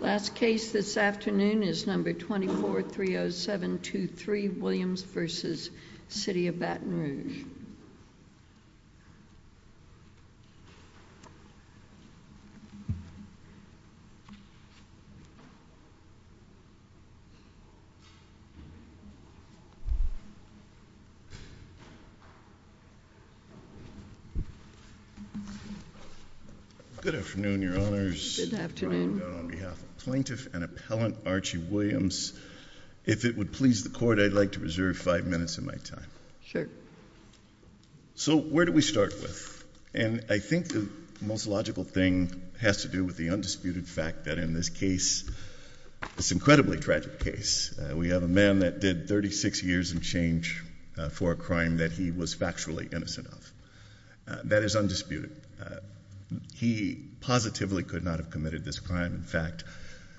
Last case this afternoon is number 2430723 Williams v. City of Baton Rouge Good afternoon, Your Honors. Good afternoon. On behalf of Plaintiff and Appellant Archie Williams, if it would please the Court, I'd like to reserve five minutes of my time. Sure. So where do we start with? And I think the most logical thing has to do with the undisputed fact that in this case, this incredibly tragic case, we have a man that did 36 years and change for a crime that he was factually innocent of. That is undisputed. He positively could not have committed this crime. In fact,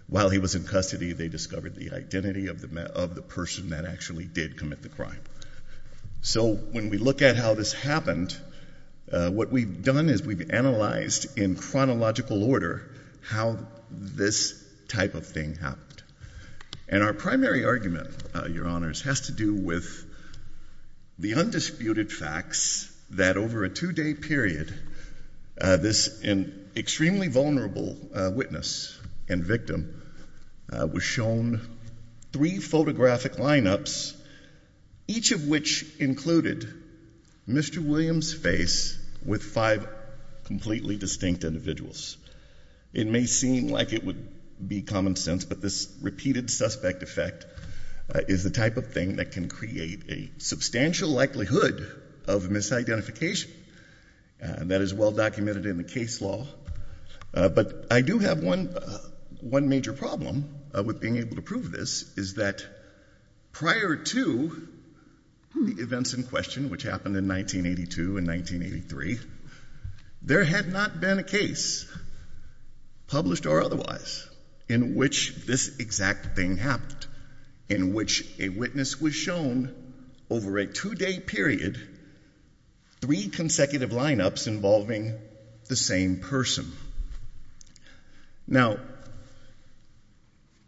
while he was in custody, they discovered the identity of the person that actually did commit the crime. So when we look at how this happened, what we've done is we've analyzed in chronological order how this type of thing happened. And our primary argument, Your Honors, has to do with the undisputed facts that over a two-day period, this extremely vulnerable witness and victim was shown three photographic line-ups, each of which included Mr. Williams' face with five completely distinct individuals. It may seem like it would be common sense, but this repeated suspect effect is the type of thing that can create a substantial likelihood of misidentification. That is well documented in the case law. But I do have one major problem with being able to prove this, is that prior to the events in question, which happened in 1982 and 1983, there had not been a case, published or otherwise, in which this exact thing happened, in which a witness was shown over a two-day period, three consecutive line-ups involving the same person. Now,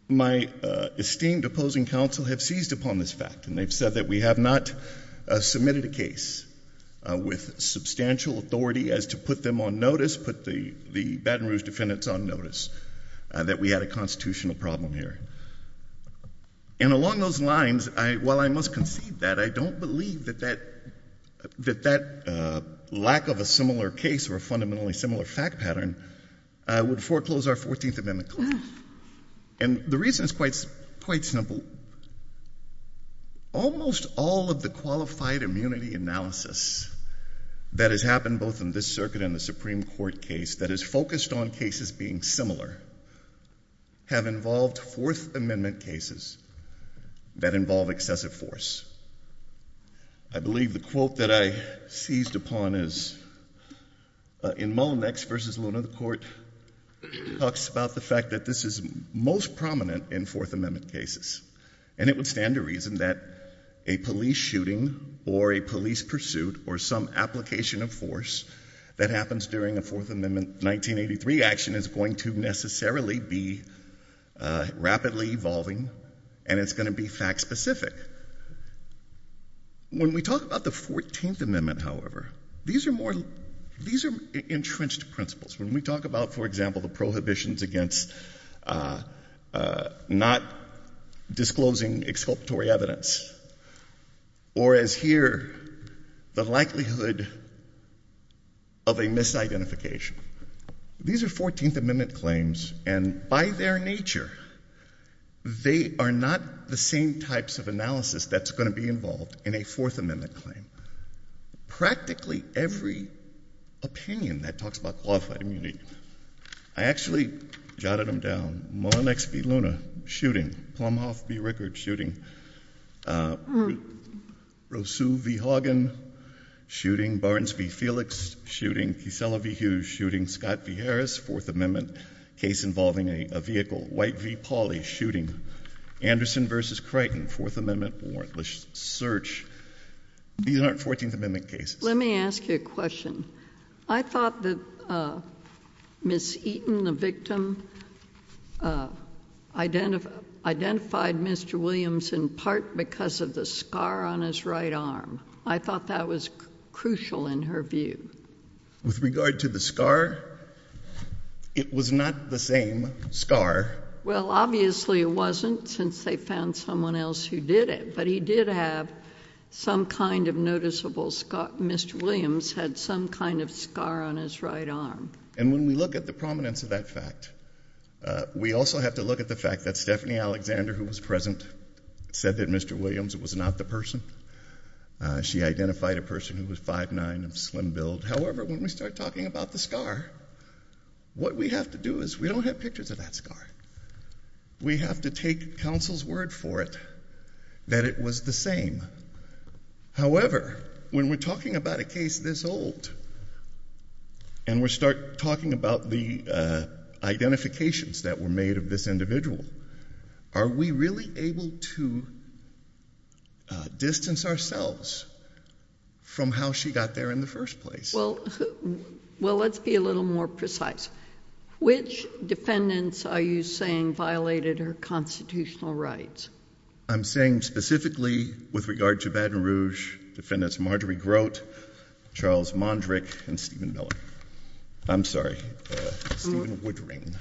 my esteemed opposing counsel have seized upon this fact, and they've said that we have not submitted a case with substantial authority as to put them on notice, put the Baton Rouge defendants on notice, that we had a constitutional problem here. And along those lines, while I must concede that, I don't believe that that lack of a similar case or a fundamentally similar fact pattern would foreclose our 14th Amendment claim. And the reason is quite simple. Almost all of the qualified immunity analysis that has happened, both in this circuit and the Supreme Court case, that has focused on cases being similar, have involved Fourth Amendment cases that involve excessive force. I believe the quote that I seized upon is, in Mullinex v. Luna, the court talks about the fact that this is most prominent in Fourth Amendment cases. And it would stand to reason that a police shooting or a police pursuit or some application of force that happens during a Fourth Amendment 1983 action is going to necessarily be rapidly evolving, and it's going to be fact-specific. When we talk about the 14th Amendment, however, these are more, these are entrenched principles. When we talk about, for example, the prohibitions against not disclosing exculpatory evidence, or as here, the likelihood of a misidentification. These are 14th Amendment claims, and by their nature, they are not the same types of analysis that's going to be involved in a Fourth Amendment claim. Practically every opinion that talks about qualified immunity, I actually jotted them down. Mullinex v. Luna, shooting. Plumhoff v. Rickard, shooting. Rousseau v. Haugen, shooting. Barnes v. Felix, shooting. Kissela v. Hughes, shooting. Scott v. Harris, Fourth Amendment case involving a vehicle. White v. Pauley, shooting. Anderson v. Creighton, Fourth Amendment warrantless search. These aren't 14th Amendment cases. Let me ask you a question. I thought that Ms. Eaton, the victim, identified Mr. Williams in part because of the scar on his right arm. I thought that was crucial in her view. With regard to the scar, it was not the same scar. Well, obviously it wasn't, since they found someone else who did it, but he did have some kind of noticeable scar. Mr. Williams had some kind of scar on his right arm. And when we look at the prominence of that fact, we also have to look at the fact that Stephanie Alexander, who was present, said that Mr. Williams was not the person. She identified a person who was 5'9", slim build. However, when we start talking about the scar, what we have to do is, we don't have pictures of that scar. We have to take counsel's word for it that it was the same. However, when we're talking about a case this old, and we start talking about the identifications that were made of this individual, are we really able to distance ourselves from how she got there in the first place? Well, let's be a little more precise. Which defendants are you saying violated her constitutional rights? I'm saying specifically, with regard to Baton Rouge, Defendants Marjorie Grote, Charles Mondrick, and Stephen Miller. I'm sorry, Stephen Woodring.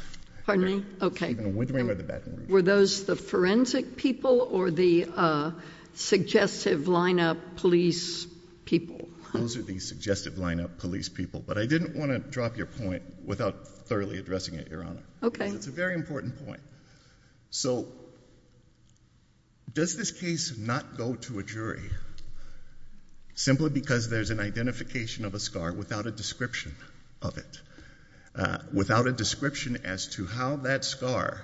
Pardon me? Okay. Were those the forensic people or the suggestive lineup police people? Those are the suggestive lineup police people. But I didn't want to drop your point without thoroughly addressing it, Your Honor. Okay. I think it's a very important point. So, does this case not go to a jury, simply because there's an identification of a scar without a description of it? Without a description as to how that scar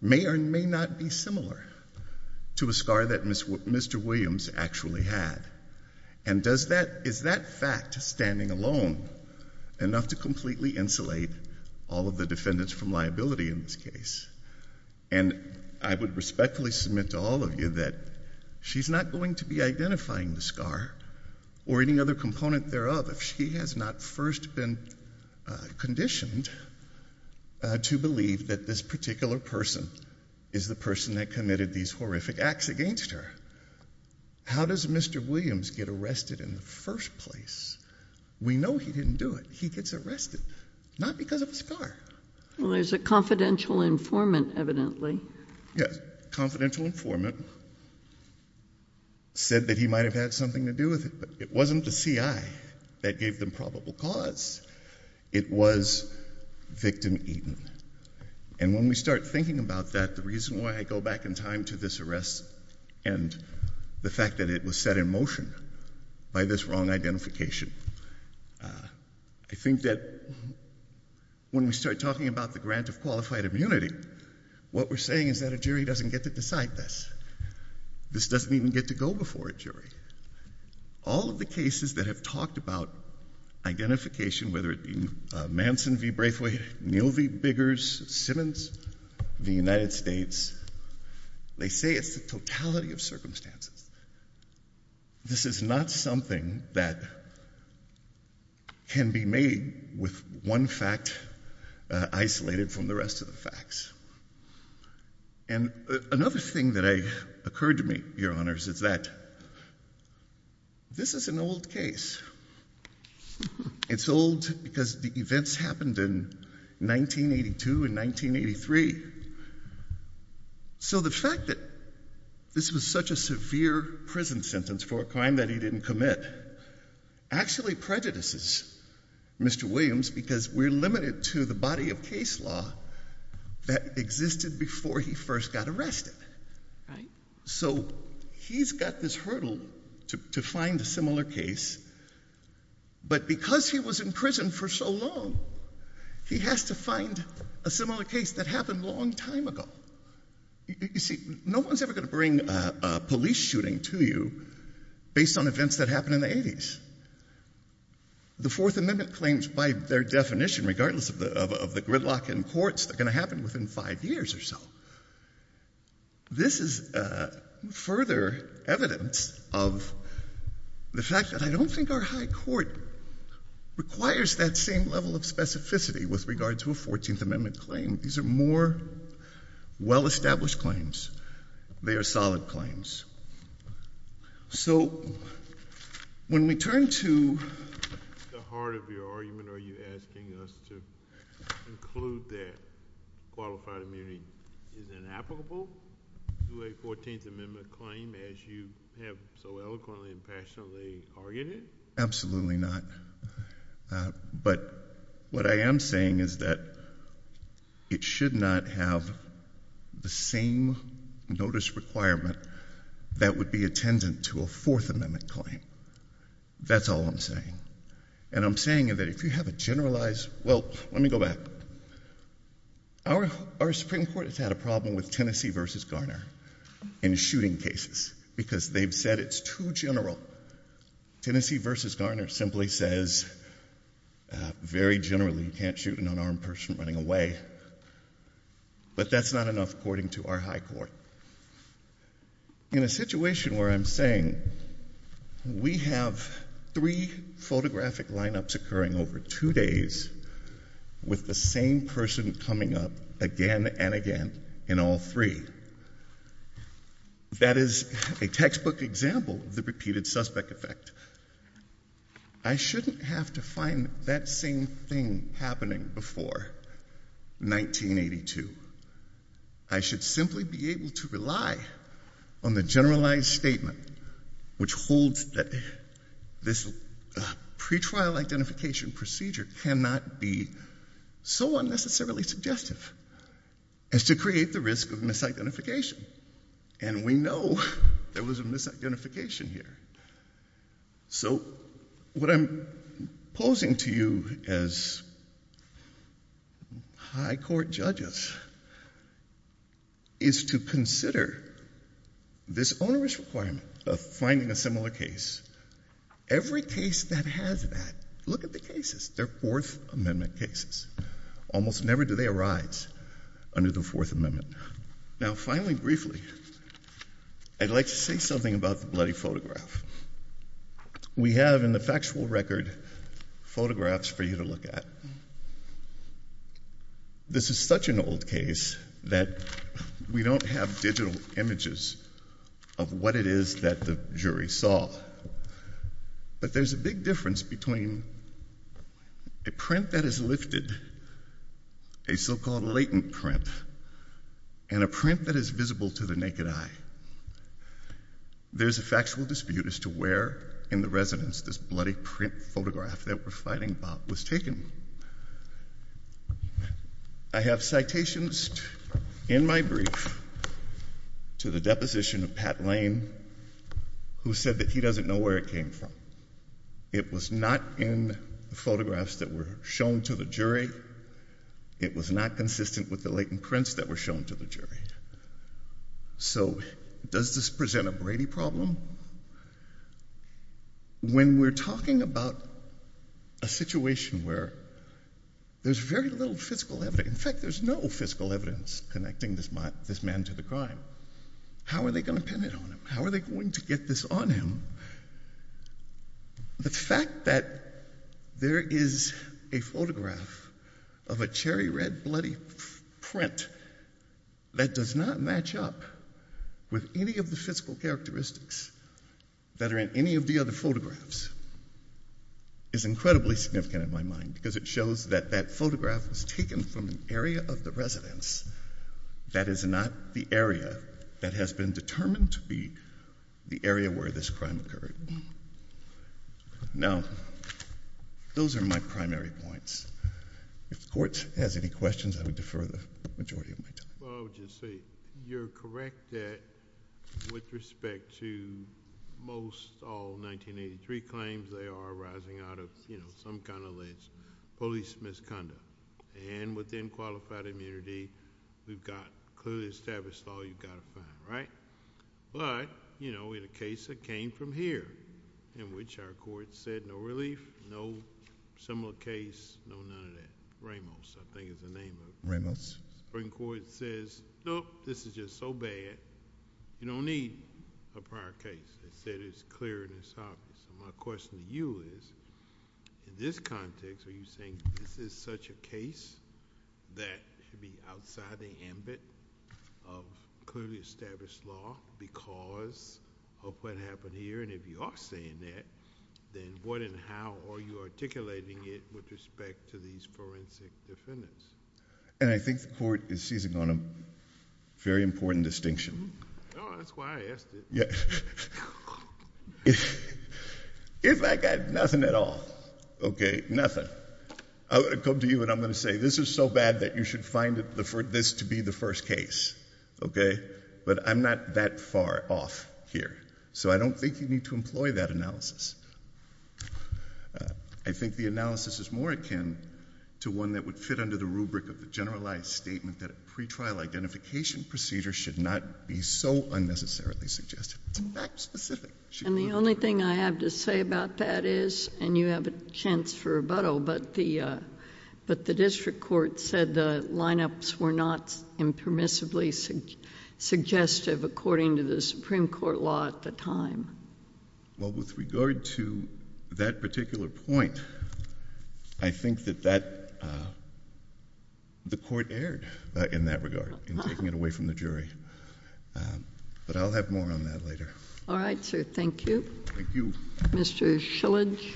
may or may not be similar to a scar that Mr. Williams actually had? And is that fact, standing alone, enough to completely insulate all of the defendants from liability in this case? And I would respectfully submit to all of you that she's not going to be identifying the scar, or any other component thereof, if she has not first been conditioned to believe that this particular person is the person that committed these horrific acts against her. How does Mr. Williams get arrested in the first place? We know he didn't do it. He gets arrested, not because of a scar. Well, there's a confidential informant, evidently. Yes. Confidential informant said that he might have had something to do with it, but it wasn't the CI that gave them probable cause. It was victim Eaton. And when we start thinking about that, the reason why I go back in time to this arrest, and the fact that it was set in motion by this wrong identification, I think that when we start talking about the grant of qualified immunity, what we're saying is that a jury doesn't get to decide this. This doesn't even get to go before a jury. All of the cases that have talked about identification, whether it be Manson v. Braithwaite, Neal v. Biggers, Simmons v. United States, they say it's the totality of circumstances. This is not something that can be made with one fact isolated from the rest of the facts. And another thing that occurred to me, Your Honors, is that this is an old case. It's old because the events happened in 1982 and 1983. So the fact that this was such a severe prison sentence for a crime that he didn't commit actually prejudices Mr. Williams because we're limited to the body of case law that existed before he first got arrested. So he's got this hurdle to find a similar case, but because he was in prison for so long, he has to find a similar case that happened a long time ago. You see, no one's ever going to bring a police shooting to you based on events that happened in the 80s. The Fourth Amendment claims by their definition, regardless of the gridlock in courts, they're going to happen within five years or so. This is further evidence of the fact that I don't think our high court requires that same level of specificity with regard to a Fourteenth Amendment claim. These are more well-established claims. They are solid claims. So when we turn to the heart of your argument, are you asking us to conclude that qualified immunity is inapplicable to a Fourteenth Amendment claim as you have so eloquently and passionately argued it? Absolutely not. But what I am saying is that it should not have the same notice requirement that would be attendant to a Fourth Amendment claim. That's all I'm saying. And I'm saying that if you have a generalized, well, let me go back. Our Supreme Court has had a problem with Tennessee v. Garner in shooting cases because they've said it's too general. Tennessee v. Garner simply says very generally you can't shoot an unarmed person running away. But that's not enough according to our high court. In a situation where I'm saying we have three photographic lineups occurring over two days, with the same person coming up again and again in all three, that is a textbook example of the repeated suspect effect. I shouldn't have to find that same thing happening before 1982. I should simply be able to rely on the generalized statement which holds that this pretrial identification procedure cannot be so unnecessarily suggestive as to create the risk of misidentification. And we know there was a misidentification here. So what I'm posing to you as high court judges is to consider this onerous requirement of finding a similar case. Every case that has that, look at the cases. They're Fourth Amendment cases. Almost never do they arise under the Fourth Amendment. Now finally, briefly, I'd like to say something about the bloody photograph. We have in the factual record photographs for you to look at. This is such an old case that we don't have digital images of what it is that the jury saw. But there's a big difference between a print that is lifted, a so-called latent print, and a print that is visible to the naked eye. There's a factual dispute as to where in the residence this bloody print photograph that we're fighting about was taken. I have citations in my brief to the deposition of Pat Lane, who said that he doesn't know where it came from. It was not in the photographs that were shown to the jury. It was not consistent with the latent prints that were shown to the jury. So does this present a Brady problem? When we're talking about a situation where there's very little physical evidence, in fact, there's no physical evidence connecting this man to the crime, how are they going to pin it on him? How are they going to get this on him? The fact that there is a photograph of a cherry red bloody print that does not match up with any of the physical characteristics that are in any of the other photographs is incredibly significant in my mind, because it shows that that photograph was taken from an area of the residence that is not the area that has been determined to be the area where this crime occurred. Now, those are my primary points. If the court has any questions, I would defer the majority of my time. Well, I would just say you're correct that with respect to most all 1983 claims, they are arising out of some kind of alleged police misconduct. And within qualified immunity, we've got clearly established law you've got to find, right? But in a case that came from here, in which our court said no relief, no similar case, no none of that. Ramos, I think is the name of it. Ramos. The Supreme Court says, nope, this is just so bad, you don't need a prior case. They said it's clear and it's obvious. My question to you is, in this context, are you saying this is such a case that should be outside the ambit of clearly established law because of what happened here? And if you are saying that, then what and how are you articulating it with respect to these forensic defendants? And I think the court is seizing on a very important distinction. No, that's why I asked it. If I got nothing at all, okay, nothing, I would come to you and I'm going to say, this is so bad that you should find this to be the first case, okay? But I'm not that far off here. So I don't think you need to employ that analysis. I think the analysis is more akin to one that would fit under the rubric of the generalized statement that a pretrial identification procedure should not be so unnecessarily suggestive. It's fact specific. And the only thing I have to say about that is, and you have a chance for rebuttal, but the district court said the lineups were not impermissibly suggestive according to the Supreme Court law at the time. Well, with regard to that particular point, I think that the court erred in that regard, in taking it away from the jury. But I'll have more on that later. All right, sir. Thank you. Thank you. Mr. Shillage.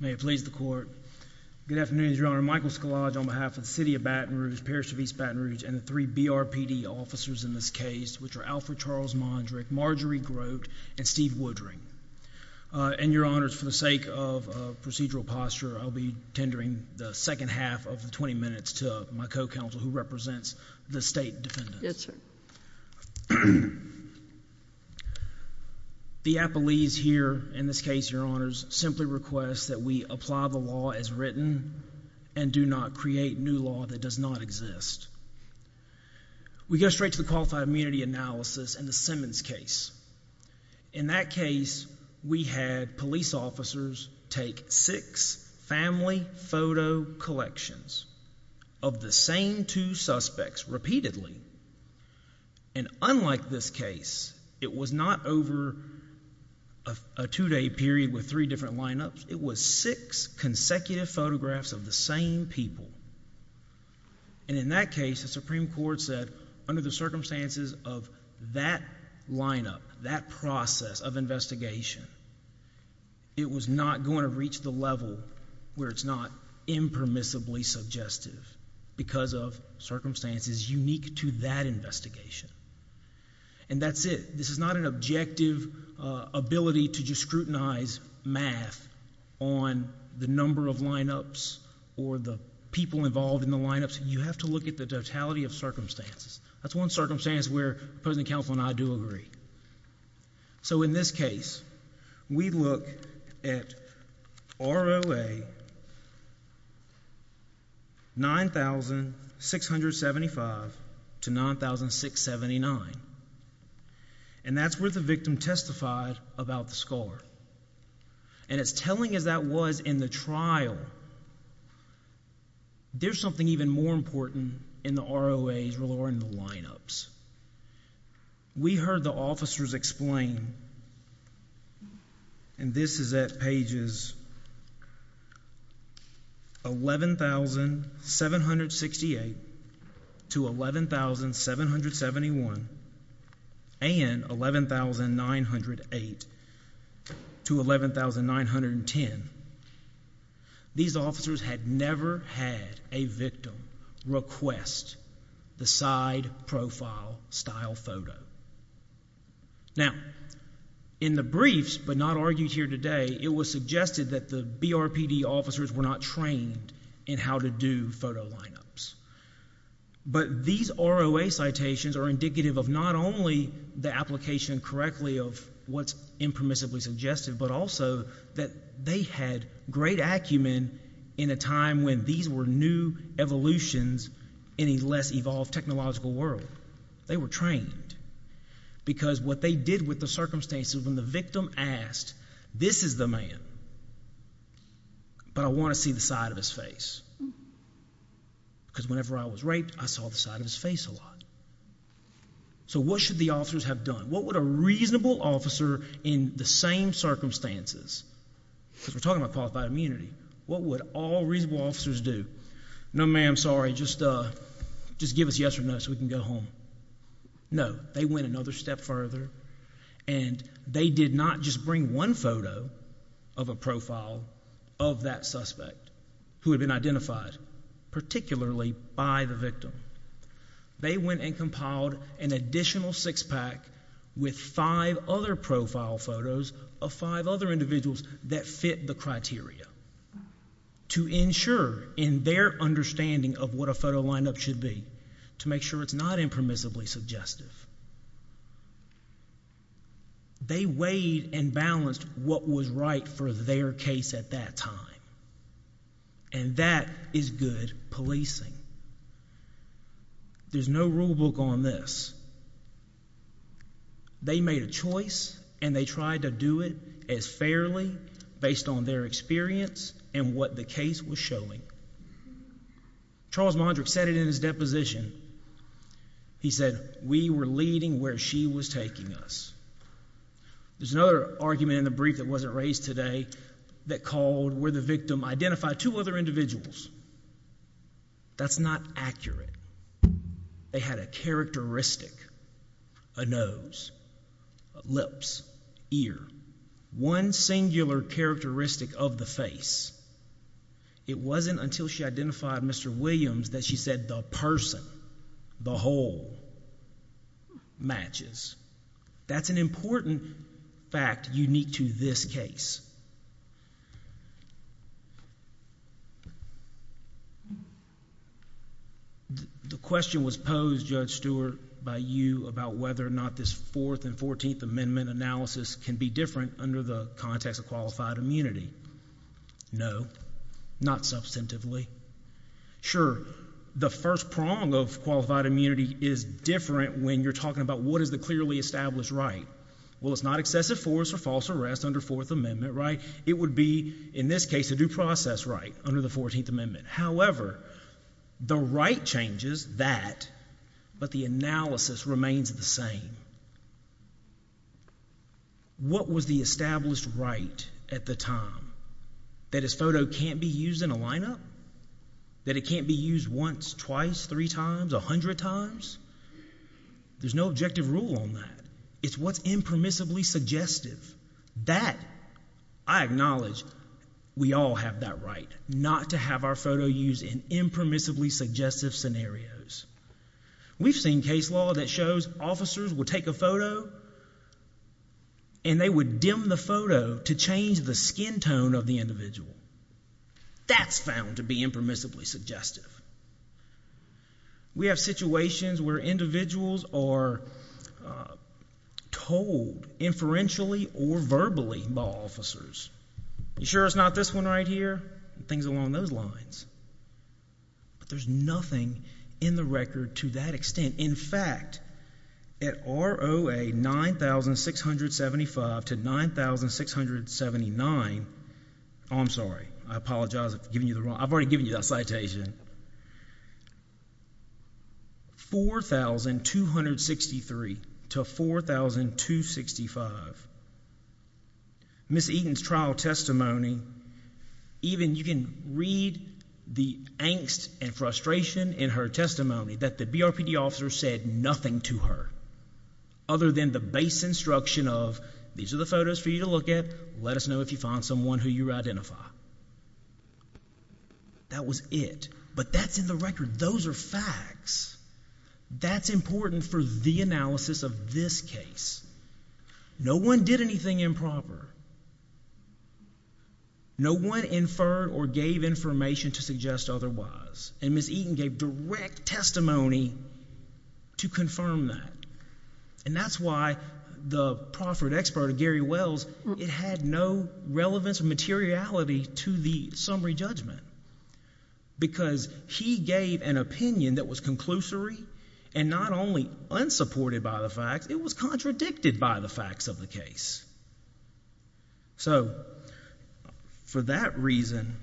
May it please the Court. Good afternoon, Your Honor. Michael Shillage on behalf of the City of Baton Rouge, Parish of East Baton Rouge, and the three BRPD officers in this case, which are Alfred Charles Mondrick, Marjorie Grote, and Steve Woodring. And Your Honors, for the sake of procedural posture, I'll be tendering the second half of the 20 minutes to my co-counsel, who represents the state defendants. Yes, sir. The appellees here, in this case, Your Honors, simply request that we apply the law as written and do not create new law that does not exist. We go straight to the qualified immunity analysis in the Simmons case. In that case, we had police officers take six family photo collections of the same two suspects repeatedly. And unlike this case, it was not over a two-day period with three different lineups. It was six consecutive photographs of the same people. And in that case, the Supreme Court said under the circumstances of that lineup, that process of investigation, it was not going to reach the level where it's not impermissibly suggestive because of circumstances unique to that investigation. And that's it. This is not an objective ability to just scrutinize math on the number of lineups or the people involved in the lineups. You have to look at the totality of circumstances. That's one circumstance where the opposing counsel and I do agree. So in this case, we look at ROA 9,675 to 9,679. And that's where the victim testified about the scar. And as telling as that was in the trial, there's something even more important in the ROAs or in the lineups. We heard the officers explain, and this is at pages 11,768 to 11,771 and 11,908 to 11,910. These officers had never had a victim request the side profile style photo. Now, in the briefs, but not argued here today, it was suggested that the BRPD officers were not trained in how to do photo lineups. But these ROA citations are indicative of not only the application correctly of what's impermissibly suggestive, but also that they had great acumen in a time when these were new evolutions in a less evolved technological world. They were trained. Because what they did with the circumstances when the victim asked, this is the man, but I want to see the side of his face. Because whenever I was raped, I saw the side of his face a lot. So what should the officers have done? What would a reasonable officer in the same circumstances, because we're talking about qualified immunity, what would all reasonable officers do? No, ma'am, sorry, just give us yes or no so we can go home. No, they went another step further, and they did not just bring one photo of a profile of that suspect who had been identified, particularly by the victim. They went and compiled an additional six-pack with five other profile photos of five other individuals that fit the criteria to ensure in their understanding of what a photo lineup should be, to make sure it's not impermissibly suggestive. They weighed and balanced what was right for their case at that time, and that is policing. There's no rule book on this. They made a choice, and they tried to do it as fairly based on their experience and what the case was showing. Charles Mondrick said it in his deposition. He said, we were leading where she was taking us. There's another argument in the brief that wasn't raised today that called where the victim identified two other individuals. That's not accurate. They had a characteristic, a nose, lips, ear, one singular characteristic of the face. It wasn't until she identified Mr. Williams that she said the person, the whole, matches. That's an important fact unique to this case. The question was posed, Judge Stewart, by you about whether or not this Fourth and Fourteenth Amendment analysis can be different under the context of qualified immunity. No, not substantively. Sure, the first prong of qualified immunity is different when you're talking about what is the clearly established right. Well, it's not excessive force or false arrest under Fourth Amendment, right? It would be, in this case, a due process right under the Fourteenth Amendment. However, the right changes that, but the analysis remains the same. What was the established right at the time? That his photo can't be used in a lineup? That it can't be used once, twice, three times, a hundred times? There's no objective rule on that. It's what's impermissibly suggestive. That, I acknowledge, we all have that right, not to have our photo used in impermissibly suggestive. They would take a photo and they would dim the photo to change the skin tone of the individual. That's found to be impermissibly suggestive. We have situations where individuals are told inferentially or verbally by officers. You sure it's not this one right here? Things nothing in the record to that extent. In fact, at ROA 9,675 to 9,679, I'm sorry, I apologize for giving you the wrong, I've already given you that citation, 4,263 to 4,265, Ms. Eaton's trial testimony, even you can read the angst and frustration in her testimony that the BRPD officer said nothing to her other than the base instruction of, these are the photos for you to look at, let us know if you find someone who you identify. That was it, but that's in the record. Those are facts. That's important for the analysis of this case. No one did anything improper. No one inferred or gave information to suggest otherwise, and Ms. Eaton gave direct testimony to confirm that, and that's why the proffered expert of Gary Wells, it had no relevance or materiality to the summary judgment because he gave an opinion that was conclusory and not only unsupported by the facts, it was contradicted by the facts of the case. So, for that reason,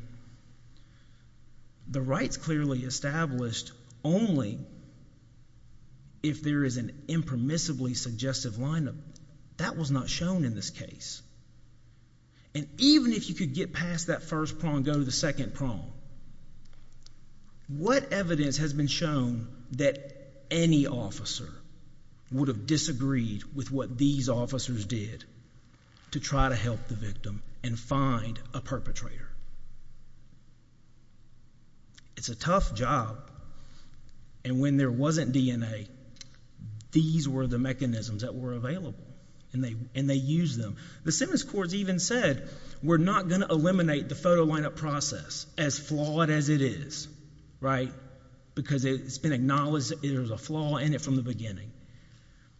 the rights clearly established only if there is an impermissibly suggestive line of, that was not shown in this case, and even if you could get past that first prong, go to the second prong, what evidence has been shown that any officer would have disagreed with what these officers did to try to help the victim and find a perpetrator? It's a tough job, and when there wasn't DNA, these were the mechanisms that were available, and they used them. The sentence courts even said, we're not going to eliminate the photo lineup process, as flawed as it is, right, because it's been acknowledged that there was flaw in it from the beginning,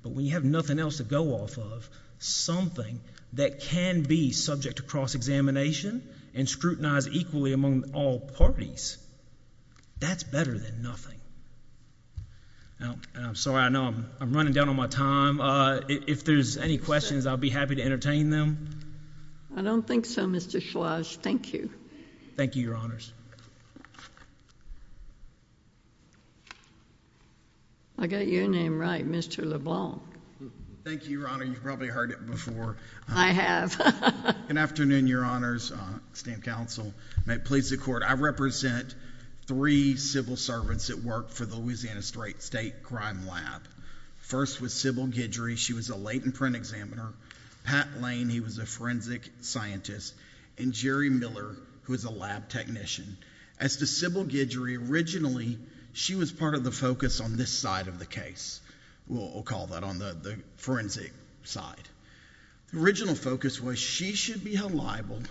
but when you have nothing else to go off of, something that can be subject to cross-examination and scrutinized equally among all parties, that's better than nothing. Now, I'm sorry, I know I'm running down on my time. If there's any questions, I'll be happy to entertain them. I don't think so, Mr. Schlage. Thank you. Thank you, Your Honors. I got your name right, Mr. LeBlanc. Thank you, Your Honor. You've probably heard it before. I have. Good afternoon, Your Honors, esteemed counsel. May it please the Court, I represent three civil servants that worked for the Louisiana State Crime Lab. First was Sybil Guidry. She was a late-in-print examiner. Pat Lane, he was a forensic scientist, and Jerry Miller, who was a lab technician. As to Sybil Guidry, originally, she was part of the focus on this side of the case. We'll call that on the forensic side. The original focus was she should be held liable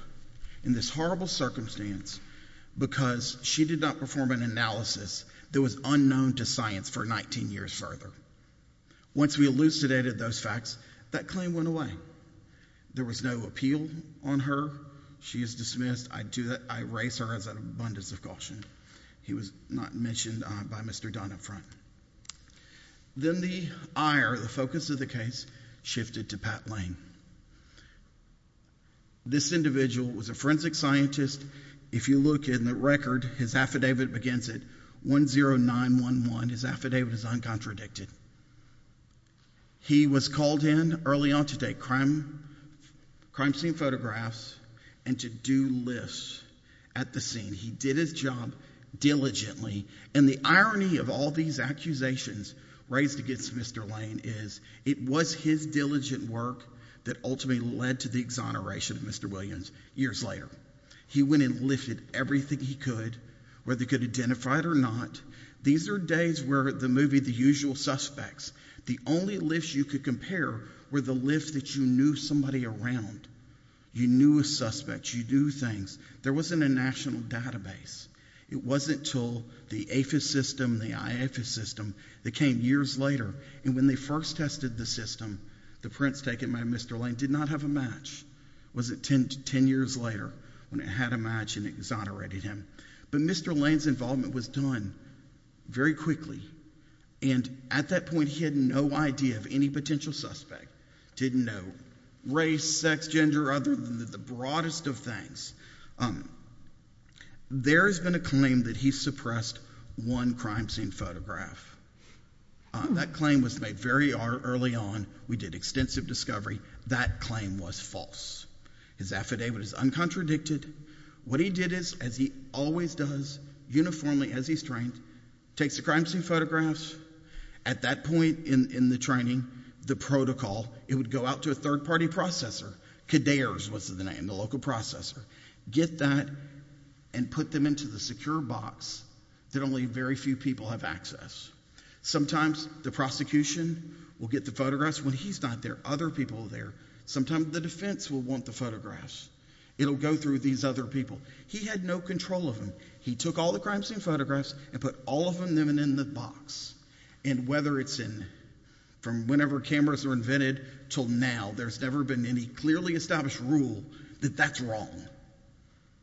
in this horrible circumstance because she did not perform an analysis that was unknown to science for 19 years further. Once we elucidated those facts, that claim went away. There was no appeal on her. She is dismissed. I raise her as an abundance of caution. He was not mentioned by Mr. Dunn up front. Then the ire, the focus of the case, shifted to Pat Lane. This individual was a forensic scientist. If you look in the record, his affidavit begins at 10911. His affidavit is uncontradicted. He was called in early on to take crime scene photographs and to do lists at the scene. He did his job diligently. And the irony of all these accusations raised against Mr. Lane is it was his diligent work that ultimately led to the exoneration of Mr. Williams years later. He went and lifted everything he could, whether he could identify it or not. These are days where the movie The Usual Suspects, the only lifts you could compare were the lifts that you knew somebody around. You knew a suspect. You knew things. There wasn't a national database. It wasn't until the AFIS system, the IAFIS system that came years later. And when they first tested the system, the prints taken by Mr. Lane did not have a match. It was 10 years later when it had a match and exonerated him. But Mr. Lane's involvement was done very quickly. And at that point, he had no idea of any potential suspect. Didn't know race, sex, gender, other than the broadest of things. There has been a claim that he suppressed one crime scene photograph. That claim was made very early on. We did extensive discovery. That claim was false. His affidavit is uncontradicted. What he did is, as he always does, uniformly as he's trained, takes the crime scene photographs. At that point in the training, the protocol, it would go out to a third-party processor, Cadare's was the name, the local processor. Get that and put them into the secure box that only very few people have access. Sometimes the prosecution will get the photographs when he's not there. Other people are there. Sometimes the defense will want the photographs. It'll go through these other people. He had no control of them. He took all the crime scene photographs and put all of them in the box. And whether it's in, from whenever cameras were invented till now, there's never been any clearly established rule that that's wrong.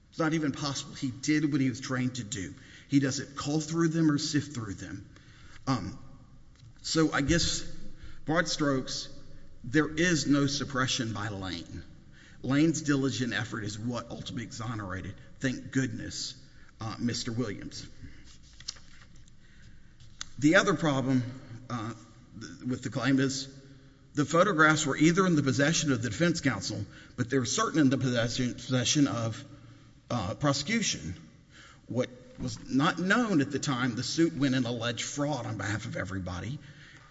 It's not even possible. He did what he was trained to do. He doesn't call through them or sift through them. So I guess, broad strokes, there is no suppression by Lane. Lane's diligent effort is what ultimately exonerated, thank goodness, Mr. Williams. The other problem with the claim is, the photographs were either in the possession of the defense counsel, but they were certainly in the possession of prosecution. What was not known at the time, the suit went in alleged fraud on behalf of everybody,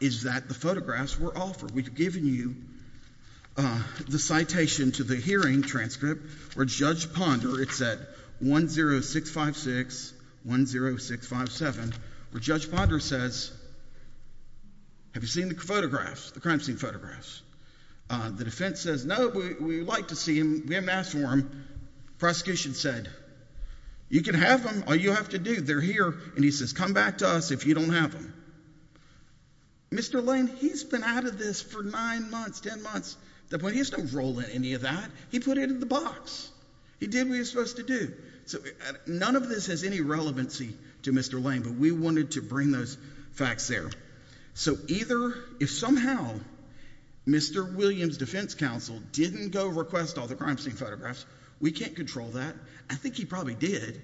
is that the photographs were offered. We've given you the citation to the hearing transcript where Judge Ponder, it's at 10656-10657, where Judge Ponder says, have you seen the photographs, the crime scene photographs? The defense says, no, we'd like to see them, we haven't asked for them. Prosecution said, you can have them, all you have to do, they're here. And he says, come back to us if you don't have them. Mr. Lane, he's been out of this for nine months, ten months. At that point, he doesn't roll in any of that. He put it in the box. He did what he was supposed to do. None of this has any relevancy to Mr. Lane, but we wanted to bring those facts there. So either, if somehow, Mr. Williams' defense counsel didn't go request all the crime scene photographs, we can't control that. I think he probably did,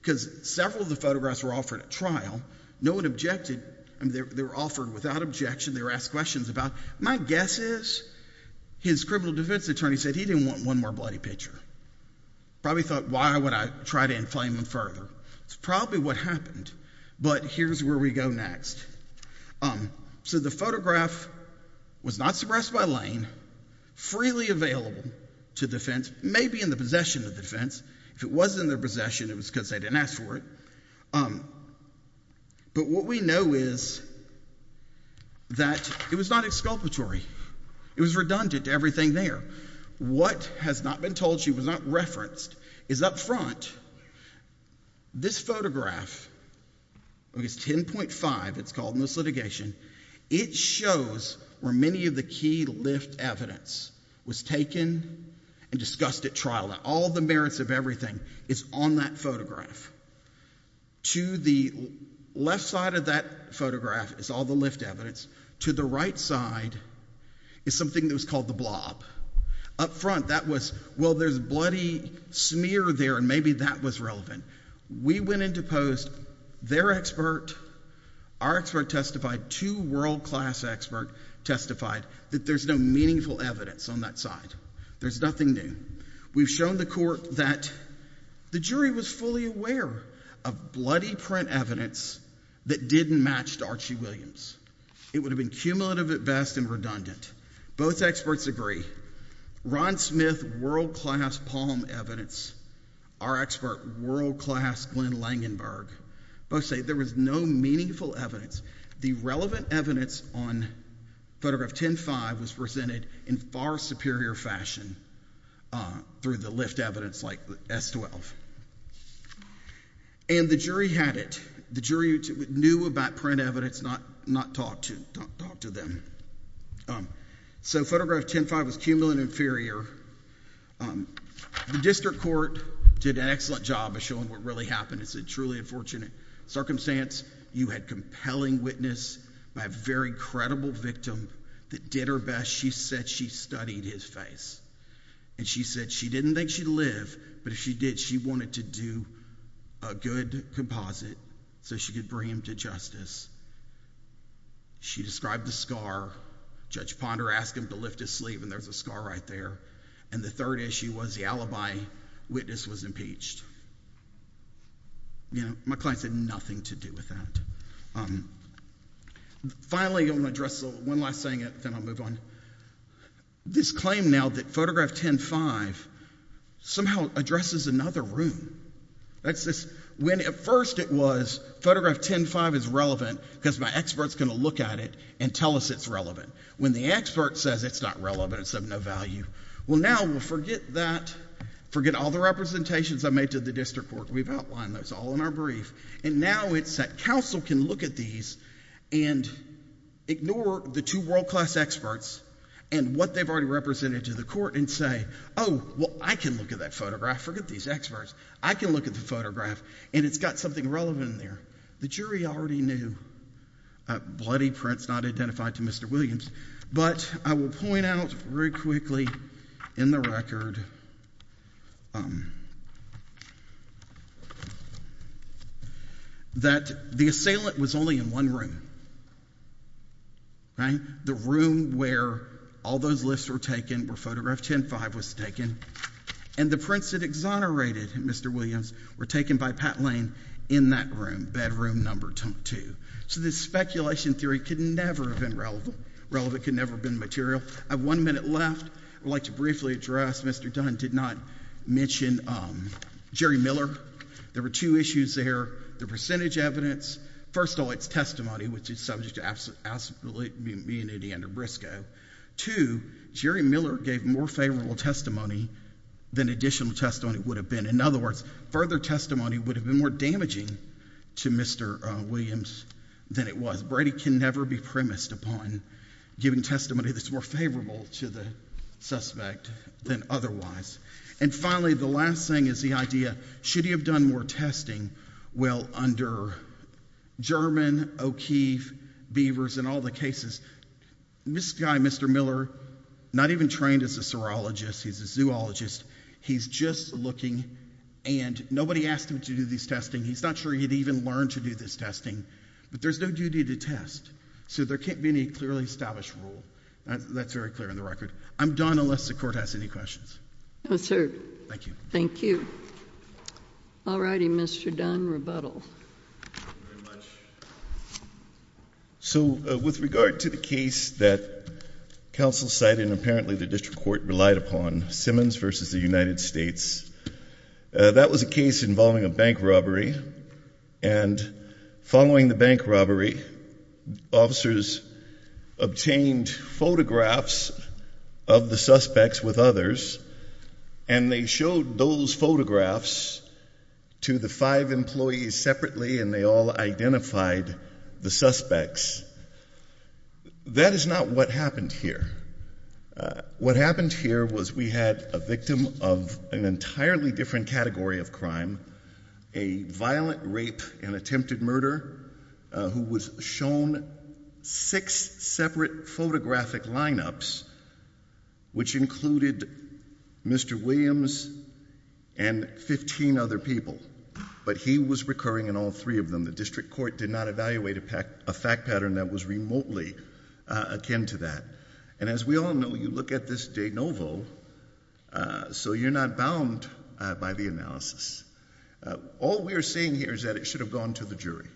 because several of the photographs were offered at trial. No one objected, they were offered without objection, they were asked questions about. My guess is, his criminal defense attorney said he didn't want one more bloody picture. Probably thought, why would I try to inflame him further? That's probably what happened. But here's where we go next. So the photograph was not suppressed by Lane, freely available to defense, maybe in the possession of defense. If it was in their possession, it was because they didn't ask for it. But what we know is that it was not exculpatory. It was redundant to everything there. What has not been told, she was not referenced, is up front. This photograph, it's 10.5, it's called in this litigation. It shows where many of the key lift evidence was taken and discussed at trial. All the merits of everything is on that photograph. To the left side of that photograph is all the lift evidence. To the right side is something that was called the blob. Up front, that was, well, there's bloody smear there and maybe that was relevant. We went in to post, their expert, our expert testified, two world class expert testified that there's no meaningful evidence on that side. There's nothing new. We've shown the court that the jury was fully aware of bloody print evidence that didn't match to Archie Williams. It would have been cumulative at best and redundant. Both experts agree. Ron Smith, world class palm evidence. Our expert, world class Glenn Langenberg. Both say there was no meaningful evidence. The relevant evidence on photograph 10.5 was presented in far superior fashion through the lift evidence like S12. The jury had it. The jury knew about print evidence, not talked to them. So photograph 10.5 was cumulative and inferior. The district court did an excellent job of showing what really happened. It's a truly unfortunate circumstance. You had compelling witness by a very credible victim that did her best. She said she studied his face. She said she didn't think she'd live to see it, but if she did, she wanted to do a good composite so she could bring him to justice. She described the scar. Judge Ponder asked him to lift his sleeve and there's a scar right there. And the third issue was the alibi witness was impeached. My client said nothing to do with that. Finally, I'm going to address one last thing and then I'll move on. This claim now that photograph 10.5 somehow addresses another room. When at first it was photograph 10.5 is relevant because my expert is going to look at it and tell us it's relevant. When the expert says it's not relevant, it's of no value. Well now we'll forget that, forget all the representations I made to the district court. We've outlined those all in our brief. And now it's that counsel can look at these and ignore the two world-class experts and what they've already represented to the court and say, oh, well, I can look at that photograph. Forget these experts. I can look at the photograph and it's got something relevant in there. The jury already knew. A bloody prince not identified to Mr. Williams. But I will point out very quickly in the record that the assailant was only in one room, right? The room where all those lists were taken, where photograph 10.5 was taken, and the prints that exonerated Mr. Williams were taken by Pat Lane in that room, bedroom number two. So this speculation theory could never have been relevant, could never have been material. I have one minute left. I'd like to briefly address, Mr. Dunn did not mention Jerry Miller. There were two issues there. The percentage evidence, first all its testimony, which is subject to absolute immunity under BRSCO. Two, Jerry Miller gave more favorable testimony than additional testimony would have been. In other words, further testimony would have been more damaging to Mr. Williams than it was. Brady can never be premised upon giving testimony that's more favorable to the suspect than otherwise. And finally, the last thing is the idea, should he have done more testing? Well, under German, O'Keeffe, Beavers and all the cases, this guy, Mr. Miller, not even trained as a serologist, he's a zoologist, he's just looking, and nobody asked him to do this testing. He's not sure he'd even learn to do this testing. But there's no duty to test. So there can't be any clearly established rule. That's very clear in the record. I'm done unless the Court has any questions. No, sir. Thank you. Thank you. All righty, Mr. Dunn, rebuttal. So with regard to the case that counsel cited, and apparently the district court relied upon, Simmons v. the United States, that was a case involving a bank robbery, and following the bank robbery, officers obtained photographs of the suspects with others, and they were and they showed those photographs to the five employees separately, and they all identified the suspects. That is not what happened here. What happened here was we had a victim of an entirely different category of crime, a violent rape and attempted murder, who was shown six separate photographic lineups, which included Mr. Williams and 15 other people, but he was recurring in all three of them. The district court did not evaluate a fact pattern that was remotely akin to that. And as we all know, you look at this de novo, so you're not bound by the analysis. All we are saying here is that it should have gone to the jury,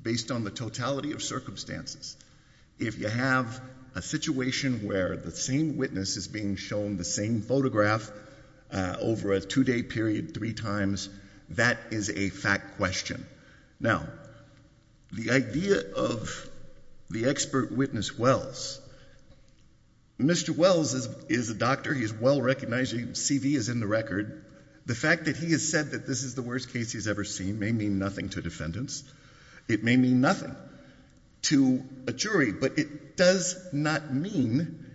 based on the totality of circumstances. If you have a situation where the same witness is being shown the same photograph over a two-day period three times, that is a fact question. Now, the idea of the expert witness Wells, Mr. Wells is a doctor, he's well-recognized, his CV is in the record. The fact that he has said that this is the worst case he's ever seen may mean nothing to defendants. It may mean nothing to a jury, but it does not mean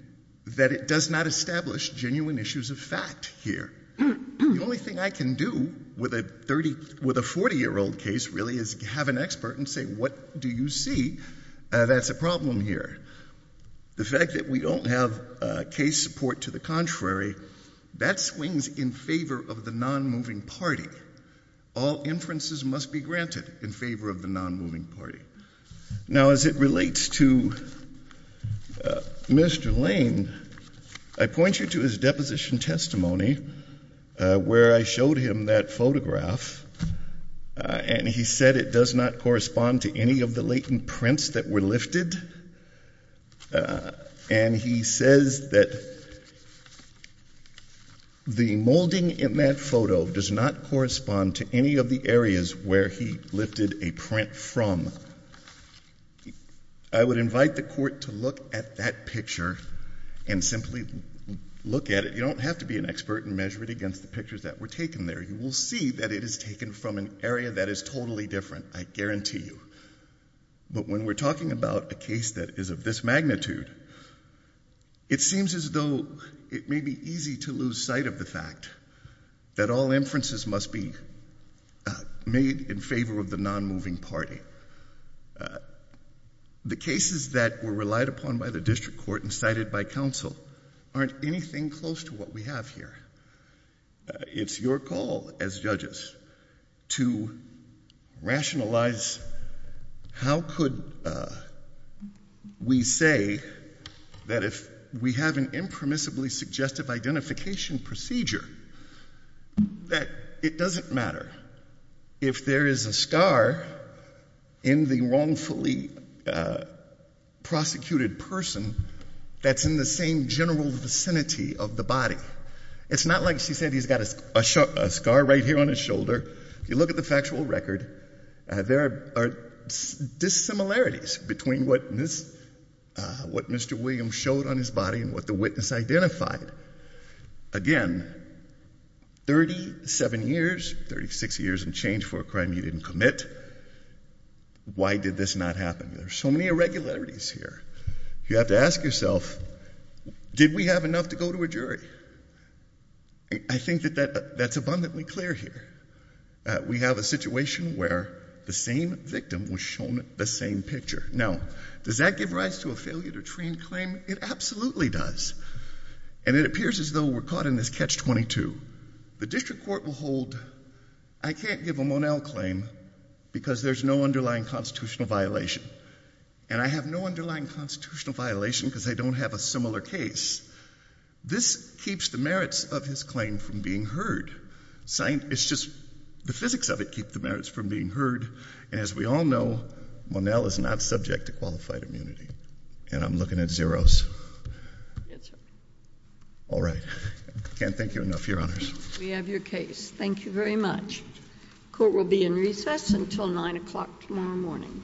that it does not establish genuine issues of fact here. The only thing I can do with a 40-year-old case, really, is have an expert and say, what do you see that's a problem here? The fact that we don't have case support to the contrary, that swings in favor of the non-moving party. All inferences must be granted in favor of the non-moving party. Now, as it relates to Mr. Lane, I point you to his deposition testimony, where I showed him that photograph, and he said it does not correspond to any of the latent prints that were lifted, and he says that the non-moving party is not in favor of the non-moving party. Molding in that photo does not correspond to any of the areas where he lifted a print from. I would invite the court to look at that picture and simply look at it. You don't have to be an expert and measure it against the pictures that were taken there. You will see that it is taken from an area that is totally different, I guarantee you. But when we're talking about a case that is of this magnitude, it seems as though it may be easy to lose sight of the fact that all inferences must be made in favor of the non-moving party. The cases that were relied upon by the district court and cited by counsel aren't anything close to what we have here. It's your call as judges to rationalize how could we say that if we have an impermissibly suggestive identification procedure that it doesn't matter if there is a scar in the wrongfully prosecuted person that's in the same general vicinity of the body. It's not like she said he's got a scar right here on his shoulder. If you look at what Mr. Williams showed on his body and what the witness identified, again, thirty-seven years, thirty-six years and change for a crime you didn't commit. Why did this not happen? There are so many irregularities here. You have to ask yourself, did we have enough to go to a jury? I think that that's abundantly clear here. We have a situation where the same victim was shown the same picture. Now, does that give rise to a failure to train claim? It absolutely does. And it appears as though we're caught in this catch-22. The district court will hold, I can't give a Monell claim because there's no underlying constitutional violation. And I have no underlying constitutional violation because I don't have a similar case. This keeps the merits of his claim from being heard. It's just the physics of it keeps the merits from being heard. And as we all know, Monell is not subject to qualified immunity. And I'm looking at zeros. All right. I can't thank you enough, Your Honors. We have your case. Thank you very much. Court will be in recess until nine o'clock tomorrow morning.